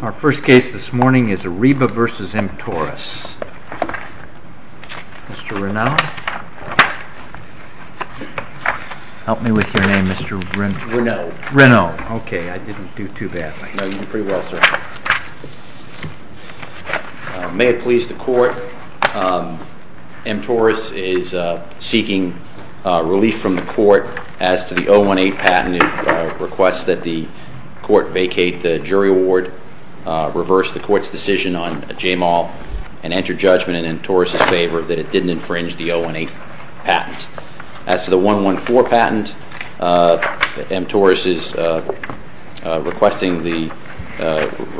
Our first case this morning is Ariba v. Emptoris. Mr. Reneau? Help me with your name, Mr. Reneau. Reneau. Okay, I didn't do too badly. No, you did pretty well, sir. May it please the Court, Emptoris is seeking relief from the Court as to the 018 patent. It requests that the Court vacate the jury award, reverse the Court's decision on Jamal, and enter judgment in Emptoris' favor that it didn't infringe the 018 patent. As to the 114 patent, Emptoris is requesting the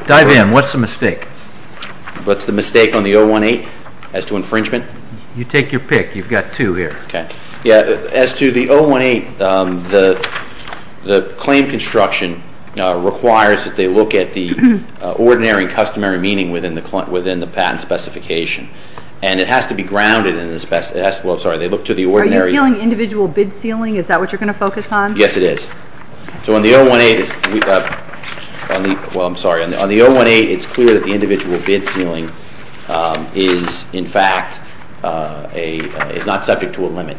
Dive in. What's the mistake? What's the mistake on the 018 as to infringement? You take your pick. You've got two here. Okay. Yeah, as to the 018, the claim construction requires that they look at the ordinary and customary meaning within the patent specification. And it has to be grounded in the specification. Well, I'm sorry, they look to the ordinary. Are you dealing with individual bid sealing? Is that what you're going to focus on? Yes, it is. So on the 018, well, I'm sorry, on the 018 it's clear that the individual bid sealing is, in fact, is not subject to a limit.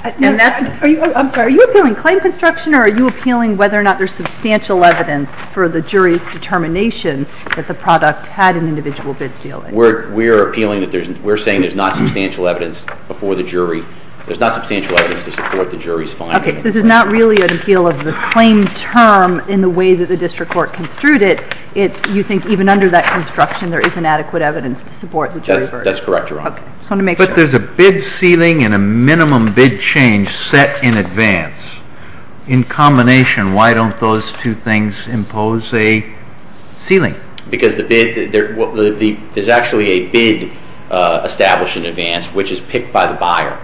I'm sorry, are you appealing claim construction or are you appealing whether or not there's substantial evidence for the jury's determination that the product had an individual bid sealing? We're appealing that there's, we're saying there's not substantial evidence before the jury. There's not substantial evidence to support the jury's findings. Okay, so this is not really an appeal of the claim term in the way that the district court construed it. You think even under that construction there is inadequate evidence to support the jury verdict. That's correct, Your Honor. Okay. But there's a bid sealing and a minimum bid change set in advance. In combination, why don't those two things impose a sealing? Because the bid, there's actually a bid established in advance, which is picked by the buyer.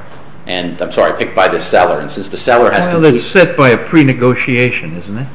I'm sorry, picked by the seller. Well, it's set by a pre-negotiation, isn't it?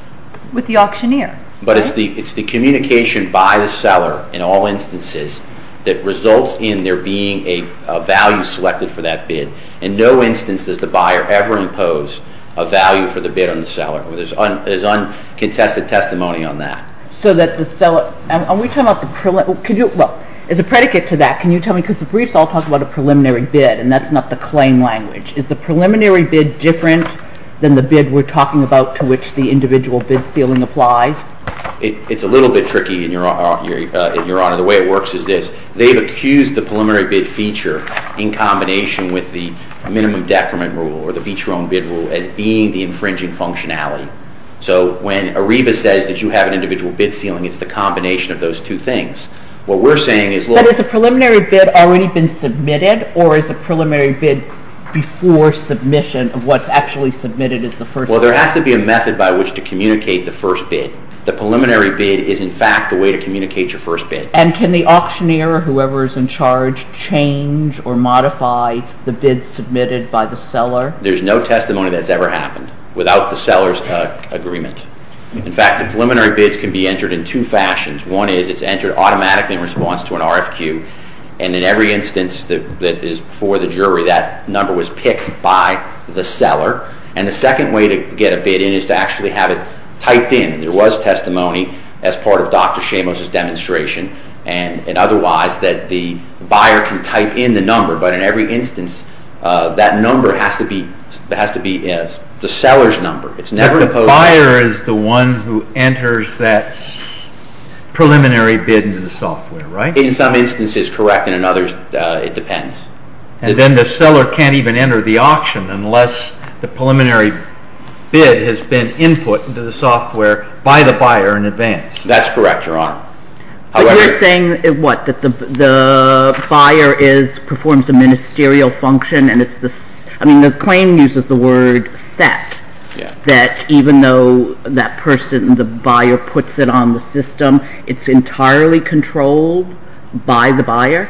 With the auctioneer. But it's the communication by the seller in all instances that results in there being a value selected for that bid. In no instance does the buyer ever impose a value for the bid on the seller. There's uncontested testimony on that. So that the seller, are we talking about the, well, as a predicate to that, can you tell me, because the briefs all talk about a preliminary bid and that's not the claim language. Is the preliminary bid different than the bid we're talking about to which the individual bid sealing applies? It's a little bit tricky, Your Honor. The way it works is this. They've accused the preliminary bid feature in combination with the minimum decrement rule or the beach-roam bid rule as being the infringing functionality. So when Ariba says that you have an individual bid sealing, it's the combination of those two things. What we're saying is... But has a preliminary bid already been submitted or is a preliminary bid before submission of what's actually submitted as the first bid? Well, there has to be a method by which to communicate the first bid. The preliminary bid is, in fact, the way to communicate your first bid. And can the auctioneer or whoever is in charge change or modify the bid submitted by the seller? There's no testimony that's ever happened without the seller's agreement. In fact, the preliminary bids can be entered in two fashions. One is it's entered automatically in response to an RFQ and in every instance that is before the jury, that number was picked by the seller. And the second way to get a bid in is to actually have it typed in. There was testimony as part of Dr. Shamos' demonstration and otherwise that the buyer can type in the number. But in every instance, that number has to be the seller's number. It's never supposed to... But the buyer is the one who enters that preliminary bid into the software, right? In some instances, correct, and in others, it depends. And then the seller can't even enter the auction unless the preliminary bid has been input into the software by the buyer in advance. That's correct, Your Honor. But you're saying, what, that the buyer performs a ministerial function and it's the... I mean, the claim uses the word set, that even though that person, the buyer, puts it on the system, it's entirely controlled by the buyer,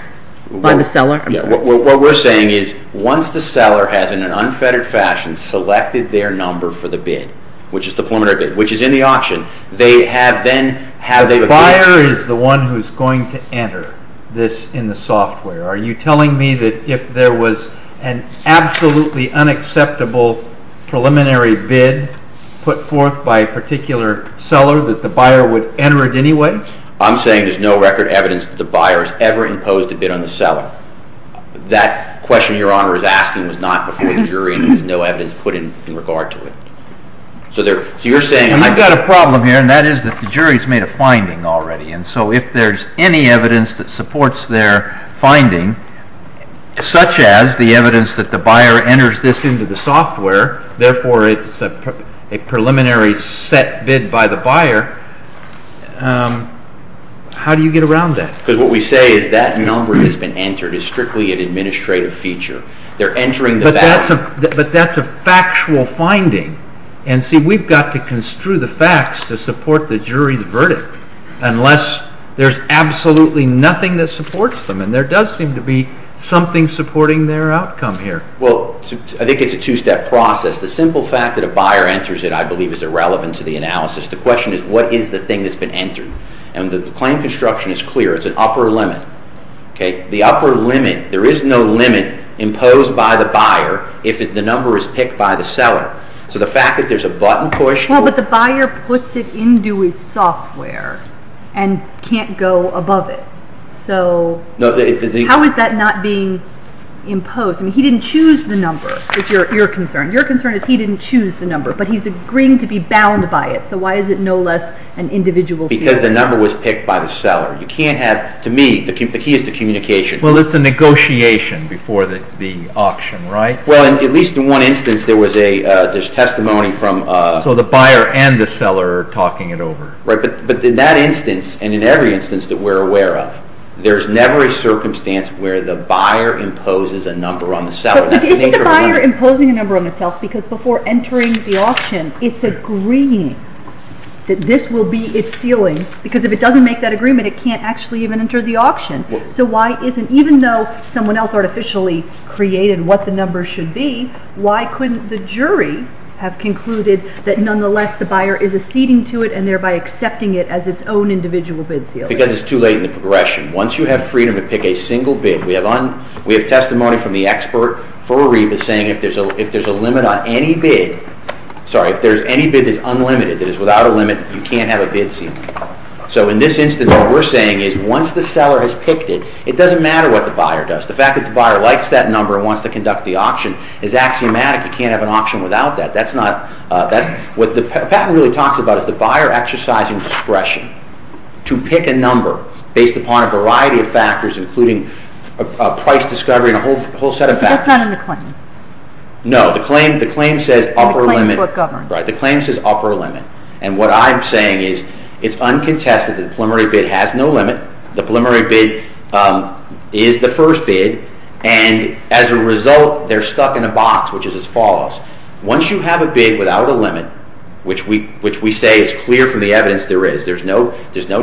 by the seller? What we're saying is, once the seller has, in an unfettered fashion, selected their number for the bid, which is the preliminary bid, which is in the auction, they have then... The buyer is the one who's going to enter this in the software. Are you telling me that if there was an absolutely unacceptable preliminary bid put forth by a particular seller that the buyer would enter it anyway? I'm saying there's no record evidence that the buyer has ever imposed a bid on the seller. That question Your Honor is asking was not before the jury and there's no evidence put in regard to it. So you're saying... And I've got a problem here, and that is that the jury's made a finding already, and so if there's any evidence that supports their finding, such as the evidence that the buyer enters this into the software, therefore it's a preliminary set bid by the buyer, how do you get around that? Because what we say is that number has been entered as strictly an administrative feature. They're entering the value. But that's a factual finding. And see, we've got to construe the facts to support the jury's verdict unless there's absolutely nothing that supports them. And there does seem to be something supporting their outcome here. Well, I think it's a two-step process. The simple fact that a buyer enters it, I believe, is irrelevant to the analysis. The question is, what is the thing that's been entered? And the claim construction is clear. It's an upper limit. The upper limit, there is no limit imposed by the buyer if the number is picked by the seller. So the fact that there's a button pushed... Well, but the buyer puts it into his software and can't go above it. So how is that not being imposed? I mean, he didn't choose the number, is your concern. Your concern is he didn't choose the number, but he's agreeing to be bound by it. So why is it no less an individual... Because the number was picked by the seller. You can't have... To me, the key is the communication. Well, it's a negotiation before the auction, right? Well, at least in one instance, there was a... There's testimony from... So the buyer and the seller are talking it over. Right, but in that instance, and in every instance that we're aware of, there's never a circumstance where the buyer imposes a number on the seller. But isn't the buyer imposing a number on itself because before entering the auction, it's agreeing that this will be its ceiling? Because if it doesn't make that agreement, it can't actually even enter the auction. So why isn't... Even though someone else artificially created what the number should be, why couldn't the jury have concluded that nonetheless the buyer is acceding to it and thereby accepting it as its own individual bid ceiling? Because it's too late in the progression. Once you have freedom to pick a single bid... We have testimony from the expert for Ariba saying if there's a limit on any bid... Sorry, if there's any bid that's unlimited, that is without a limit, you can't have a bid ceiling. So in this instance, what we're saying is once the seller has picked it, it doesn't matter what the buyer does. The fact that the buyer likes that number and wants to conduct the auction is axiomatic. You can't have an auction without that. That's not... What the patent really talks about is the buyer exercising discretion to pick a number based upon a variety of factors including a price discovery and a whole set of factors. So it's not in the claim? No. The claim says upper limit. The claim says upper limit. And what I'm saying is it's uncontested that the preliminary bid has no limit. The preliminary bid is the first bid. And as a result, they're stuck in a box, which is as follows. Once you have a bid without a limit, which we say is clear from the evidence there is, there's no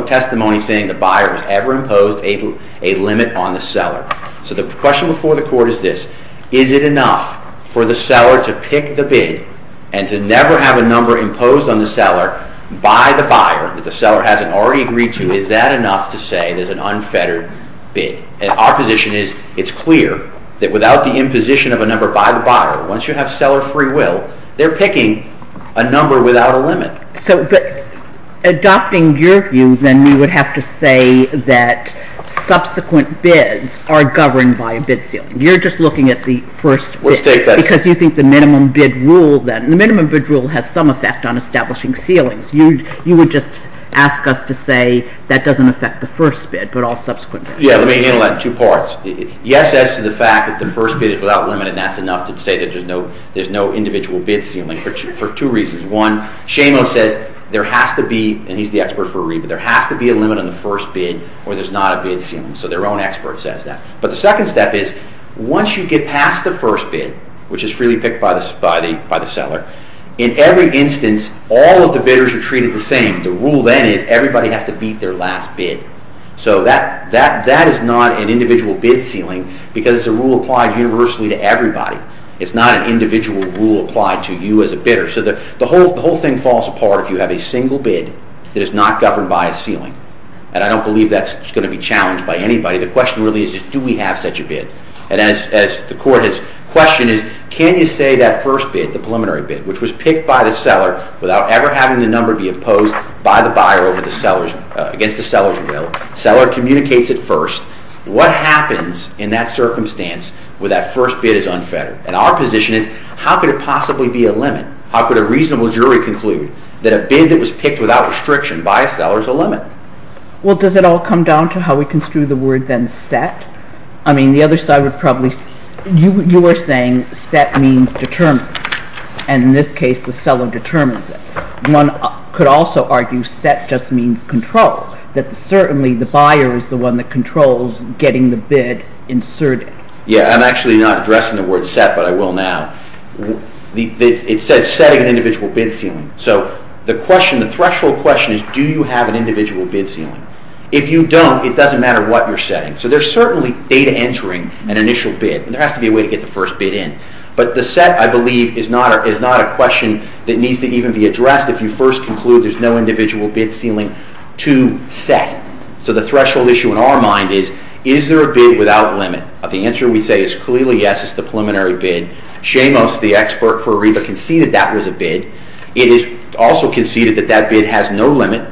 testimony saying the buyer has ever imposed a limit on the seller. So the question before the court is this. Is it enough for the seller to pick the bid and to never have a number imposed on the seller by the buyer that the seller hasn't already agreed to? Is that enough to say there's an unfettered bid? And our position is it's clear that without the imposition of a number by the buyer, once you have seller free will, they're picking a number without a limit. So adopting your view, then you would have to say that subsequent bids are governed by a bid ceiling. You're just looking at the first bid. Because you think the minimum bid rule, then, the minimum bid rule has some effect on establishing ceilings. You would just ask us to say that doesn't affect the first bid, but all subsequent bids. Yeah, let me handle that in two parts. Yes, as to the fact that the first bid is without limit, and that's enough to say that there's no individual bid ceiling, for two reasons. One, Shamo says there has to be, and he's the expert for Ariba, there has to be a limit on the first bid, or there's not a bid ceiling. So their own expert says that. But the second step is, once you get past the first bid, which is freely picked by the seller, in every instance, all of the bidders are treated the same. The rule, then, is everybody has to beat their last bid. So that is not an individual bid ceiling, because it's a rule applied universally to everybody. It's not an individual rule applied to you as a bidder. So the whole thing falls apart if you have a single bid that is not governed by a ceiling. And I don't believe that's going to be challenged by anybody. The question really is, do we have such a bid? And as the Court has questioned, can you say that first bid, the preliminary bid, which was picked by the seller without ever having the number be opposed by the buyer against the seller's will, the seller communicates it first, what happens in that circumstance where that first bid is unfettered? And our position is, how could it possibly be a limit? How could a reasonable jury conclude that a bid that was picked without restriction by a seller is a limit? Well, does it all come down to how we construe the word, then, set? I mean, the other side would probably... You were saying set means determined, and in this case the seller determines it. One could also argue set just means control, that certainly the buyer is the one that controls getting the bid inserted. Yeah, I'm actually not addressing the word set, but I will now. It says setting an individual bid ceiling. So the threshold question is, do you have an individual bid ceiling? If you don't, it doesn't matter what you're setting. So there's certainly data entering an initial bid. There has to be a way to get the first bid in. But the set, I believe, is not a question that needs to even be addressed if you first conclude there's no individual bid ceiling to set. So the threshold issue in our mind is, is there a bid without limit? The answer we say is clearly yes, it's the preliminary bid. Shamos, the expert for ARIVA, conceded that was a bid. It is also conceded that that bid has no limit.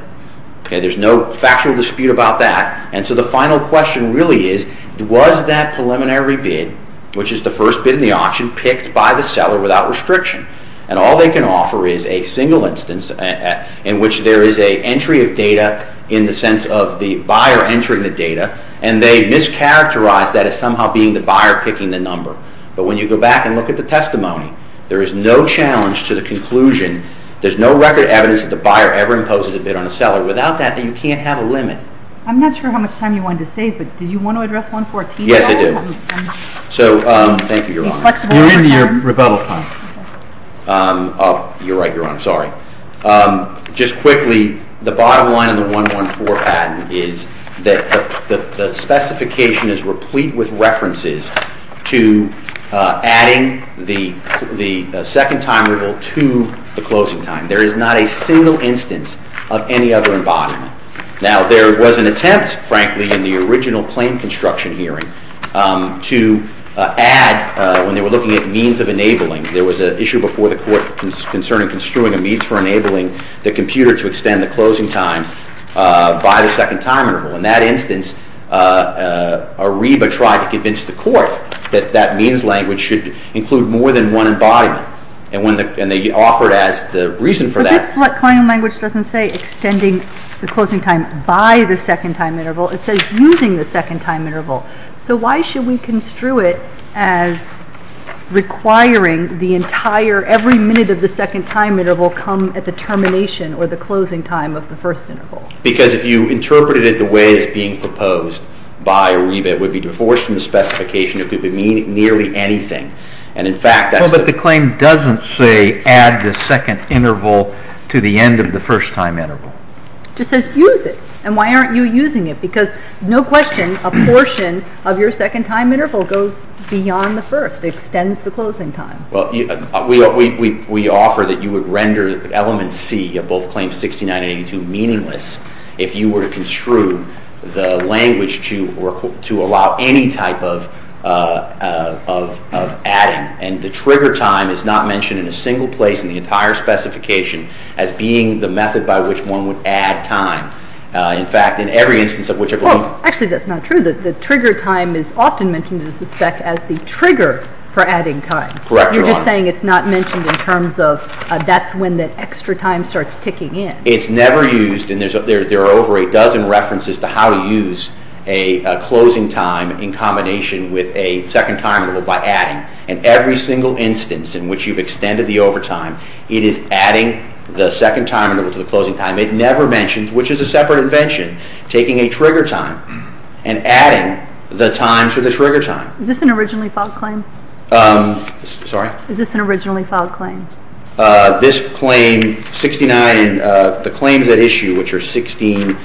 There's no factual dispute about that. And so the final question really is, was that preliminary bid, which is the first bid in the auction, picked by the seller without restriction? And all they can offer is a single instance in which there is an entry of data in the sense of the buyer entering the data, and they mischaracterize that as somehow being the buyer picking the number. But when you go back and look at the testimony, there is no challenge to the conclusion, there's no record evidence that the buyer ever imposes a bid on a seller. Without that, you can't have a limit. I'm not sure how much time you wanted to save, but did you want to address 114? Yes, I do. Thank you, Your Honor. You're in your rebuttal time. You're right, Your Honor. Sorry. Just quickly, the bottom line of the 114 patent is that the specification is replete with references to adding the second time interval to the closing time. There is not a single instance of any other embodiment. Now, there was an attempt, frankly, in the original claim construction hearing to add, when they were looking at means of enabling, there was an issue before the court concerning construing a means for enabling the computer to extend the closing time by the second time interval. In that instance, Ariba tried to convince the court that that means language should include more than one embodiment. And they offered as the reason for that. But this claim language doesn't say extending the closing time by the second time interval. It says using the second time interval. So why should we construe it as requiring the entire, every minute of the second time interval come at the termination or the closing time of the first interval? Because if you interpreted it the way it's being proposed by Ariba, it would be divorced from the specification. It could mean nearly anything. And in fact, that's the claim. But the claim doesn't say add the second interval to the end of the first time interval. It just says use it. And why aren't you using it? Because no question, a portion of your second time interval goes beyond the first. It extends the closing time. Well, we offer that you would render element C of both claims 69 and 82 meaningless if you were to construe the language to allow any type of adding. And the trigger time is not mentioned in a single place in the entire specification as being the method by which one would add time. In fact, in every instance of which I believe. Actually, that's not true. The trigger time is often mentioned, I suspect, as the trigger for adding time. Correct, Your Honor. You're just saying it's not mentioned in terms of that's when the extra time starts ticking in. It's never used. And there are over a dozen references to how to use a closing time in combination with a second time interval by adding. In every single instance in which you've extended the overtime, it is adding the second time interval to the closing time. It never mentions, which is a separate invention, taking a trigger time and adding the time to the trigger time. Is this an originally filed claim? Sorry? Is this an originally filed claim? This claim, 69, the claims at issue, which are 16,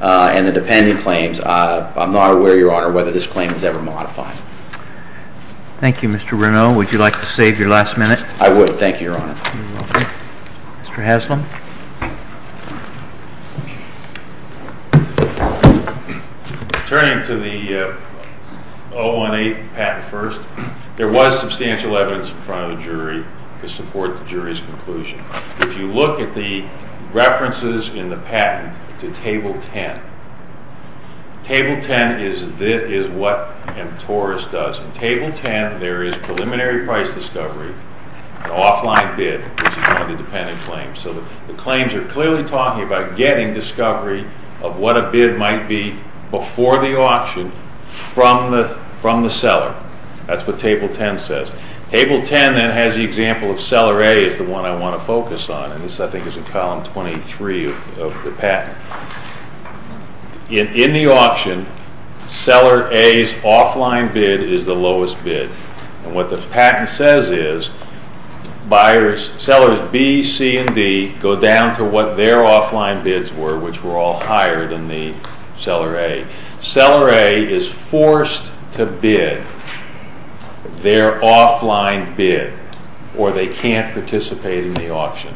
and the dependent claims, I'm not aware, Your Honor, whether this claim was ever modified. Thank you, Mr. Renaud. Would you like to save your last minute? I would. Thank you, Your Honor. Mr. Haslam? Turning to the 018 patent first, there was substantial evidence in front of the jury to support the jury's conclusion. If you look at the references in the patent to table 10, table 10 is what mTORIS does. In table 10, there is preliminary price discovery, an offline bid, which is one of the dependent claims. So the claims are clearly talking about getting discovery of what a bid might be before the auction from the seller. That's what table 10 says. Table 10, then, has the example of seller A is the one I want to focus on. And this, I think, is in column 23 of the patent. In the auction, seller A's offline bid is the lowest bid. And what the patent says is, sellers B, C, and D go down to what their offline bids were, which were all higher than the seller A. Seller A is forced to bid their offline bid, or they can't participate in the auction.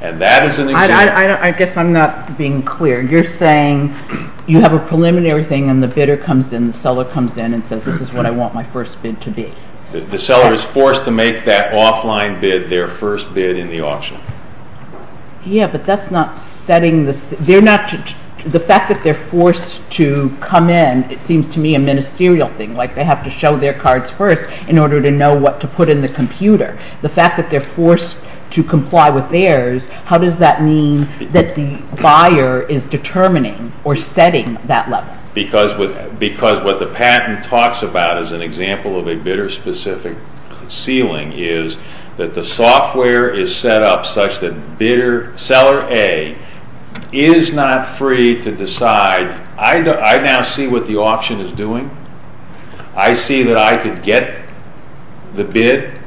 And that is an example. I guess I'm not being clear. You're saying you have a preliminary thing, and the bidder comes in, the seller comes in, and says, this is what I want my first bid to be. The seller is forced to make that offline bid their first bid in the auction. Yeah, but that's not setting this. The fact that they're forced to come in, it seems to me a ministerial thing, like they have to show their cards first in order to know what to put in the computer. The fact that they're forced to comply with theirs, how does that mean that the buyer is determining or setting that level? Because what the patent talks about as an example of a bidder-specific ceiling is that the software is set up such that seller A is not free to decide. I now see what the auction is doing. I see that I could get the bid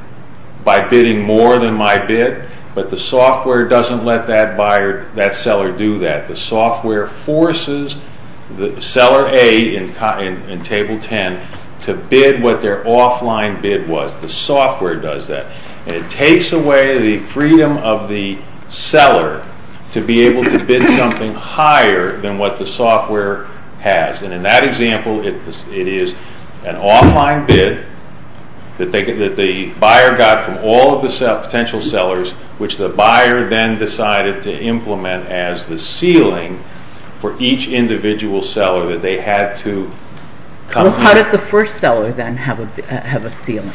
by bidding more than my bid, but the software doesn't let that seller do that. The software forces seller A in Table 10 to bid what their offline bid was. The software does that. And it takes away the freedom of the seller to be able to bid something higher than what the software has. And in that example, it is an offline bid that the buyer got from all of the potential sellers, which the buyer then decided to implement as the ceiling for each individual seller that they had to come in. Well, how does the first seller then have a ceiling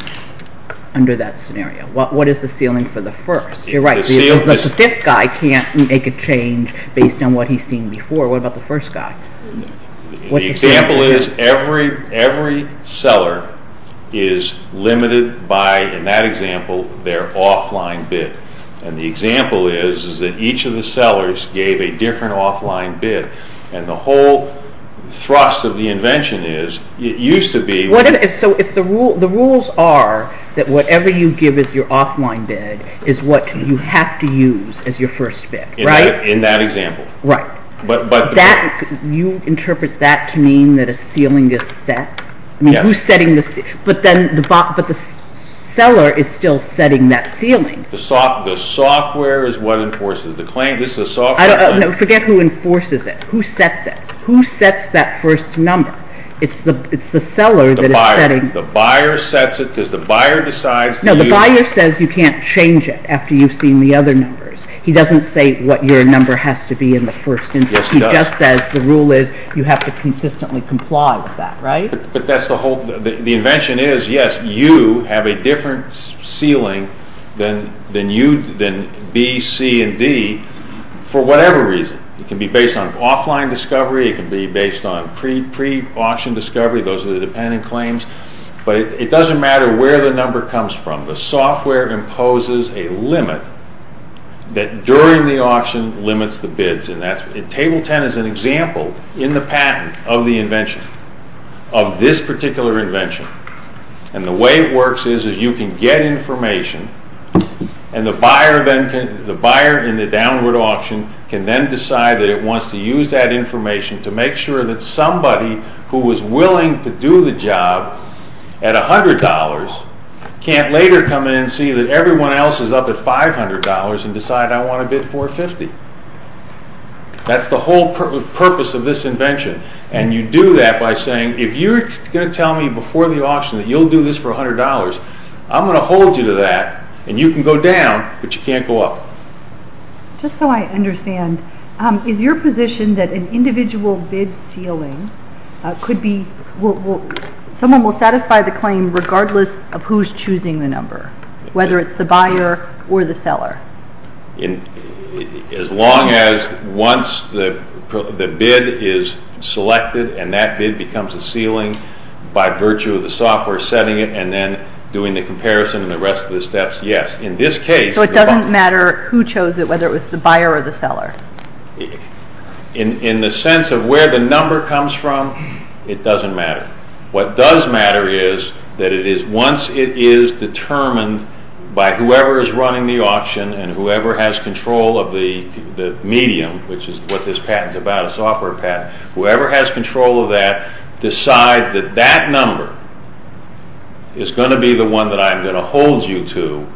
under that scenario? What is the ceiling for the first? You're right. The fifth guy can't make a change based on what he's seen before. What about the first guy? The example is every seller is limited by, in that example, their offline bid. And the example is that each of the sellers gave a different offline bid. And the whole thrust of the invention is, it used to be... So the rules are that whatever you give as your offline bid is what you have to use as your first bid, right? In that example. Right. You interpret that to mean that a ceiling is set? Yes. But the seller is still setting that ceiling. The software is what enforces the claim. Forget who enforces it. Who sets it? Who sets that first number? It's the seller that is setting... The buyer. The buyer sets it because the buyer decides to use... The buyer says you can't change it after you've seen the other numbers. He doesn't say what your number has to be in the first instance. Yes, he does. He just says the rule is you have to consistently comply with that, right? But that's the whole... The invention is, yes, you have a different ceiling than B, C, and D for whatever reason. It can be based on offline discovery. It can be based on pre-auction discovery. Those are the dependent claims. But it doesn't matter where the number comes from. The software imposes a limit that during the auction limits the bids. Table 10 is an example in the patent of the invention, of this particular invention. And the way it works is you can get information and the buyer in the downward auction can then decide that it wants to use that information to make sure that somebody who was willing to do the job at $100 can't later come in and see that everyone else is up at $500 and decide, I want to bid $450. That's the whole purpose of this invention. And you do that by saying, if you're going to tell me before the auction that you'll do this for $100, I'm going to hold you to that, and you can go down, but you can't go up. Just so I understand, is your position that an individual bid ceiling someone will satisfy the claim regardless of who's choosing the number, whether it's the buyer or the seller? As long as once the bid is selected and that bid becomes a ceiling by virtue of the software setting it and then doing the comparison and the rest of the steps, yes. In this case... whether it was the buyer or the seller? In the sense of where the number comes from, it doesn't matter. What does matter is that once it is determined by whoever is running the auction and whoever has control of the medium, which is what this patent is about, a software patent, whoever has control of that decides that that number is going to be the one that I'm going to hold you to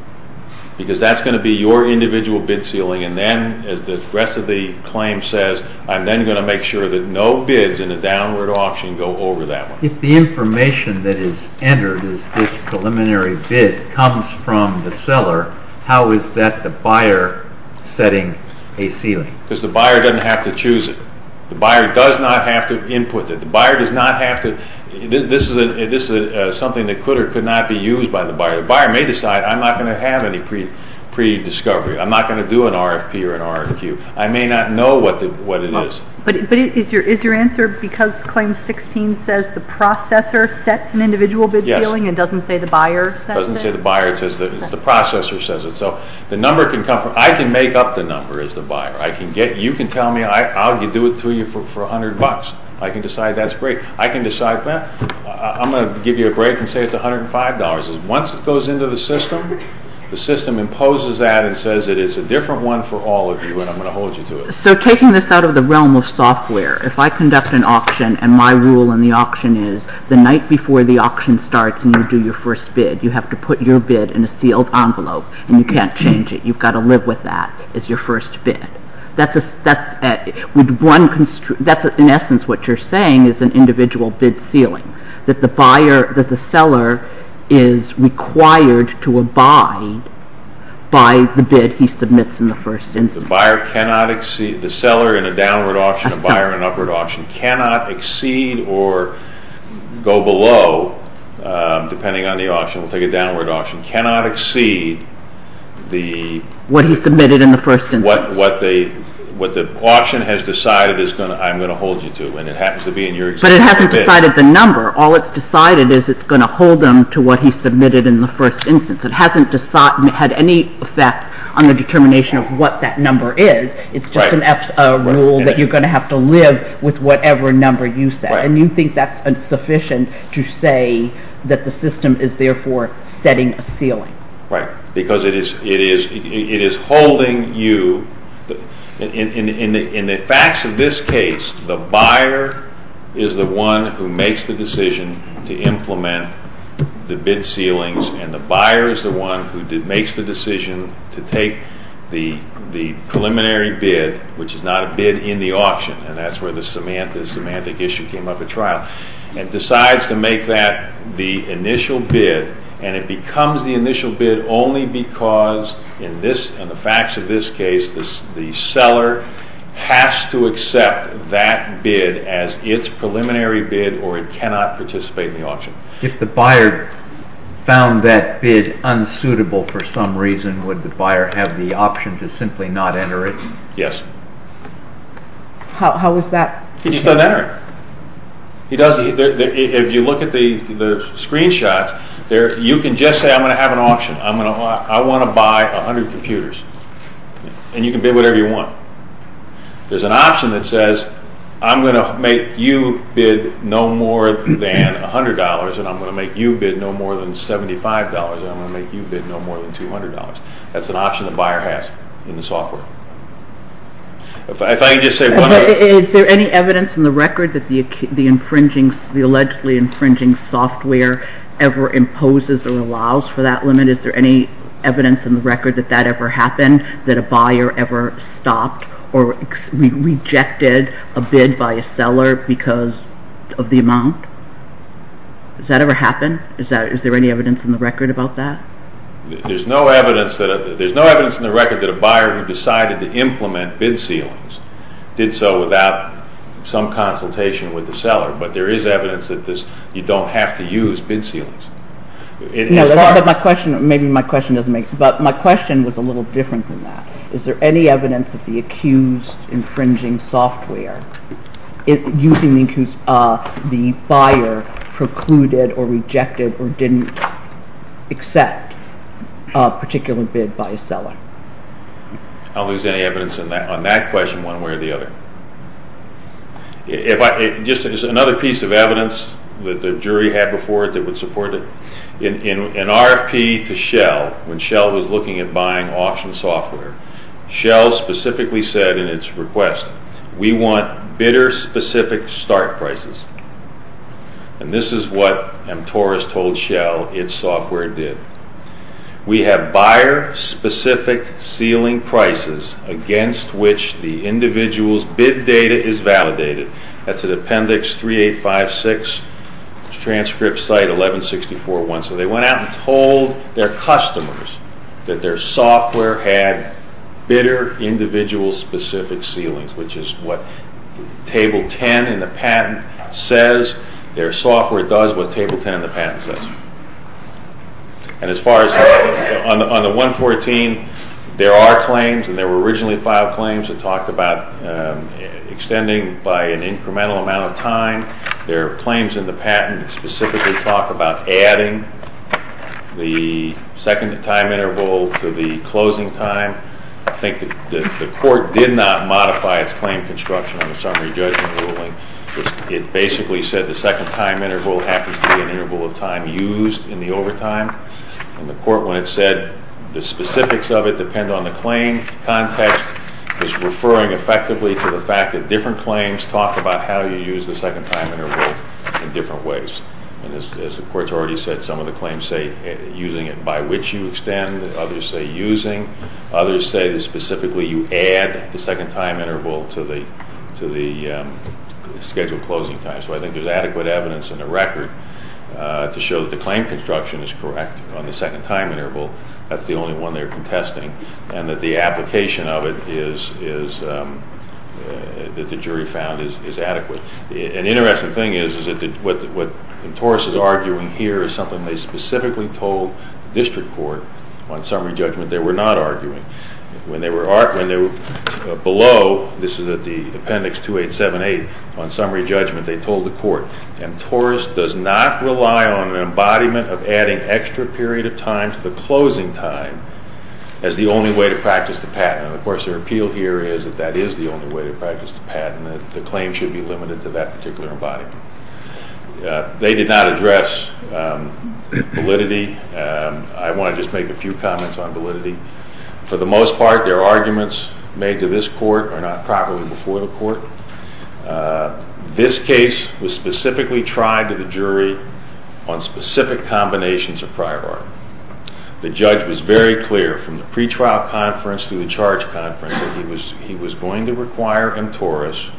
because that's going to be your individual bid ceiling, and then, as the rest of the claim says, I'm then going to make sure that no bids in a downward auction go over that one. If the information that is entered is this preliminary bid comes from the seller, how is that the buyer setting a ceiling? Because the buyer doesn't have to choose it. The buyer does not have to input it. The buyer does not have to... This is something that could or could not be used by the buyer. The buyer may decide, I'm not going to have any pre-discovery. I'm not going to do an RFP or an RFQ. I may not know what it is. But is your answer because Claim 16 says the processor sets an individual bid ceiling and doesn't say the buyer sets it? It doesn't say the buyer. It says the processor says it. So the number can come from... I can make up the number as the buyer. You can tell me. I'll do it to you for $100. I can decide that's great. I can decide that. I'm going to give you a break and say it's $105. Once it goes into the system, the system imposes that and says that it's a different one for all of you and I'm going to hold you to it. So taking this out of the realm of software, if I conduct an auction and my rule in the auction is the night before the auction starts and you do your first bid, you have to put your bid in a sealed envelope and you can't change it. You've got to live with that as your first bid. That's in essence what you're saying is an individual bid ceiling. That the seller is required to abide by the bid he submits in the first instance. The seller in a downward auction, a buyer in an upward auction, cannot exceed or go below, depending on the auction, we'll take a downward auction, cannot exceed the... What he submitted in the first instance. What the auction has decided I'm going to hold you to and it happens to be in your existing bid. But it hasn't decided the number. All it's decided is it's going to hold them to what he submitted in the first instance. It hasn't had any effect on the determination of what that number is. It's just a rule that you're going to have to live with whatever number you set. And you think that's insufficient to say that the system is therefore setting a ceiling. Right, because it is holding you... In the facts of this case, the buyer is the one who makes the decision to implement the bid ceilings and the buyer is the one who makes the decision to take the preliminary bid, which is not a bid in the auction, and that's where the semantic issue came up at trial, and decides to make that the initial bid and it becomes the initial bid only because in the facts of this case, the seller has to accept that bid as its preliminary bid or it cannot participate in the auction. If the buyer found that bid unsuitable for some reason, would the buyer have the option to simply not enter it? Yes. How is that? He just doesn't enter it. If you look at the screenshots, you can just say, I'm going to have an auction. I want to buy 100 computers. And you can bid whatever you want. There's an option that says, I'm going to make you bid no more than $100 and I'm going to make you bid no more than $75 and I'm going to make you bid no more than $200. That's an option the buyer has in the software. If I can just say one more... Is there any evidence in the record that the allegedly infringing software ever imposes or allows for that limit? Is there any evidence in the record that that ever happened? That a buyer ever stopped or rejected a bid by a seller because of the amount? Has that ever happened? Is there any evidence in the record about that? There's no evidence in the record that a buyer who decided to implement bid ceilings did so without some consultation with the seller, but there is evidence that you don't have to use bid ceilings. Maybe my question doesn't make sense, but my question was a little different than that. Is there any evidence that the accused infringing software, using the buyer, precluded or rejected or didn't accept a particular bid by a seller? I don't think there's any evidence on that question, one way or the other. Is there another piece of evidence that the jury had before it that would support it? In RFP to Shell, when Shell was looking at buying auction software, Shell specifically said in its request, we want bidder-specific start prices. And this is what MTOR has told Shell its software did. We have buyer-specific ceiling prices against which the individual's bid data is validated. That's at Appendix 3856, transcript site 1164.1. So they went out and told their customers that their software had bidder-individual-specific ceilings, which is what Table 10 in the patent says. Their software does what Table 10 in the patent says. And as far as on the 114, there are claims, and there were originally five claims that talked about extending by an incremental amount of time. There are claims in the patent that specifically talk about adding the second time interval to the closing time. I think the court did not modify its claim construction on the summary judgment ruling. It basically said the second time interval happens to be an interval of time used in the overtime. And the court, when it said the specifics of it depend on the claim context, was referring effectively to the fact that different claims talk about how you use the second time interval in different ways. And as the court's already said, some of the claims say using it by which you extend. Others say using. Others say that specifically you add the second time interval to the scheduled closing time. So I think there's adequate evidence in the record to show that the claim construction is correct on the second time interval. That's the only one they're contesting. And that the application of it is... that the jury found is adequate. An interesting thing is, is that what Mtorris is arguing here is something they specifically told the district court on summary judgment they were not arguing. When they were below, this is at the appendix 2878, on summary judgment they told the court, Mtorris does not rely on an embodiment of adding extra period of time to the closing time as the only way to practice the patent. And of course their appeal here is that that is the only way to practice the patent. The claim should be limited to that particular embodiment. They did not address validity. I want to just make a few comments on validity. For the most part, their arguments made to this court are not properly before the court. This case was specifically tried to the jury on specific combinations of prior art. The judge was very clear from the pretrial conference to the charge conference that he was going to require Mtorris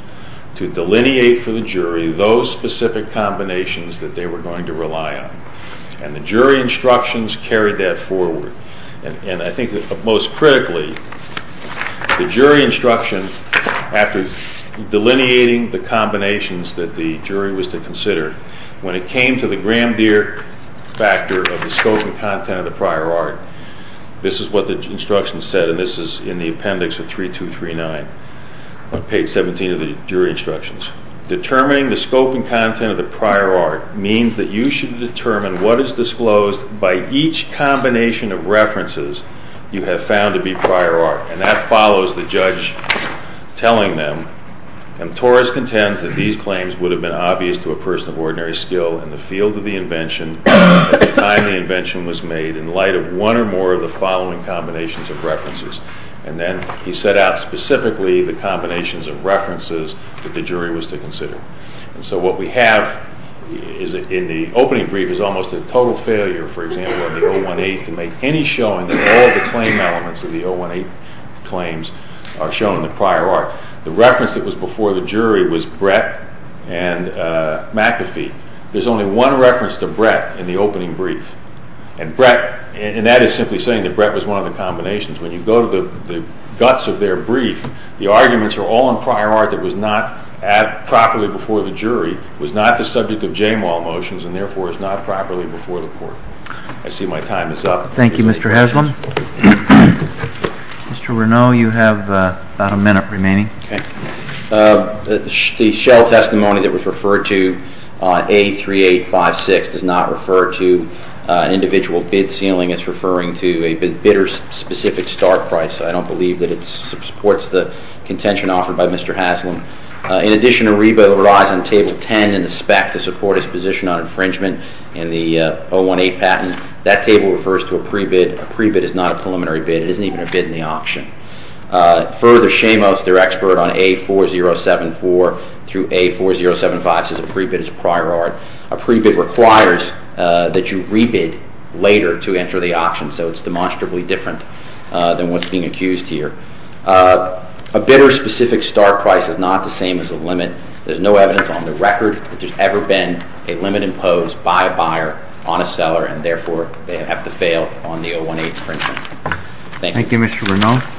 to delineate for the jury those specific combinations that they were going to rely on. And the jury instructions carried that forward. And I think most critically, the jury instruction, after delineating the combinations that the jury was to consider, when it came to the Grand Deer factor of the scope and content of the prior art, this is what the instructions said, and this is in the appendix of 3239, on page 17 of the jury instructions. Determining the scope and content of the prior art means that you should determine what is disclosed by each combination of references you have found to be prior art. And that follows the judge telling them, Mtorris contends that these claims would have been obvious to a person of ordinary skill in the field of the invention at the time the invention was made in light of one or more of the following combinations of references. And then he set out specifically the combinations of references that the jury was to consider. And so what we have in the opening brief is almost a total failure, for example, in the 018 to make any showing that all the claim elements of the 018 claims are shown in the prior art. The reference that was before the jury was Brett and McAfee. There's only one reference to Brett in the opening brief. And that is simply saying that Brett was one of the combinations. When you go to the guts of their brief, the arguments are all in prior art that was not properly before the jury, was not the subject of Jamal motions, and therefore is not properly before the court. I see my time is up. Thank you, Mr. Haslam. Mr. Reneau, you have about a minute remaining. The Shell testimony that was referred to on A3856 does not refer to an individual bid ceiling. It's referring to a bidder-specific start price. I don't believe that it supports the contention offered by Mr. Haslam. In addition, a rebuttal lies on Table 10 in the spec to support his position on infringement in the 018 patent. That table refers to a pre-bid. A pre-bid is not a preliminary bid. It isn't even a bid in the auction. Further, Shamos, their expert on A4074 through A4075 says a pre-bid is a prior art. A pre-bid requires that you re-bid later to enter the auction, so it's demonstrably different than what's being accused here. A bidder-specific start price is not the same as a limit. There's no evidence on the record that there's ever been a limit imposed by a buyer on a seller, and therefore they have to fail on the 018 infringement. Thank you. Thank you, Mr. Reneau.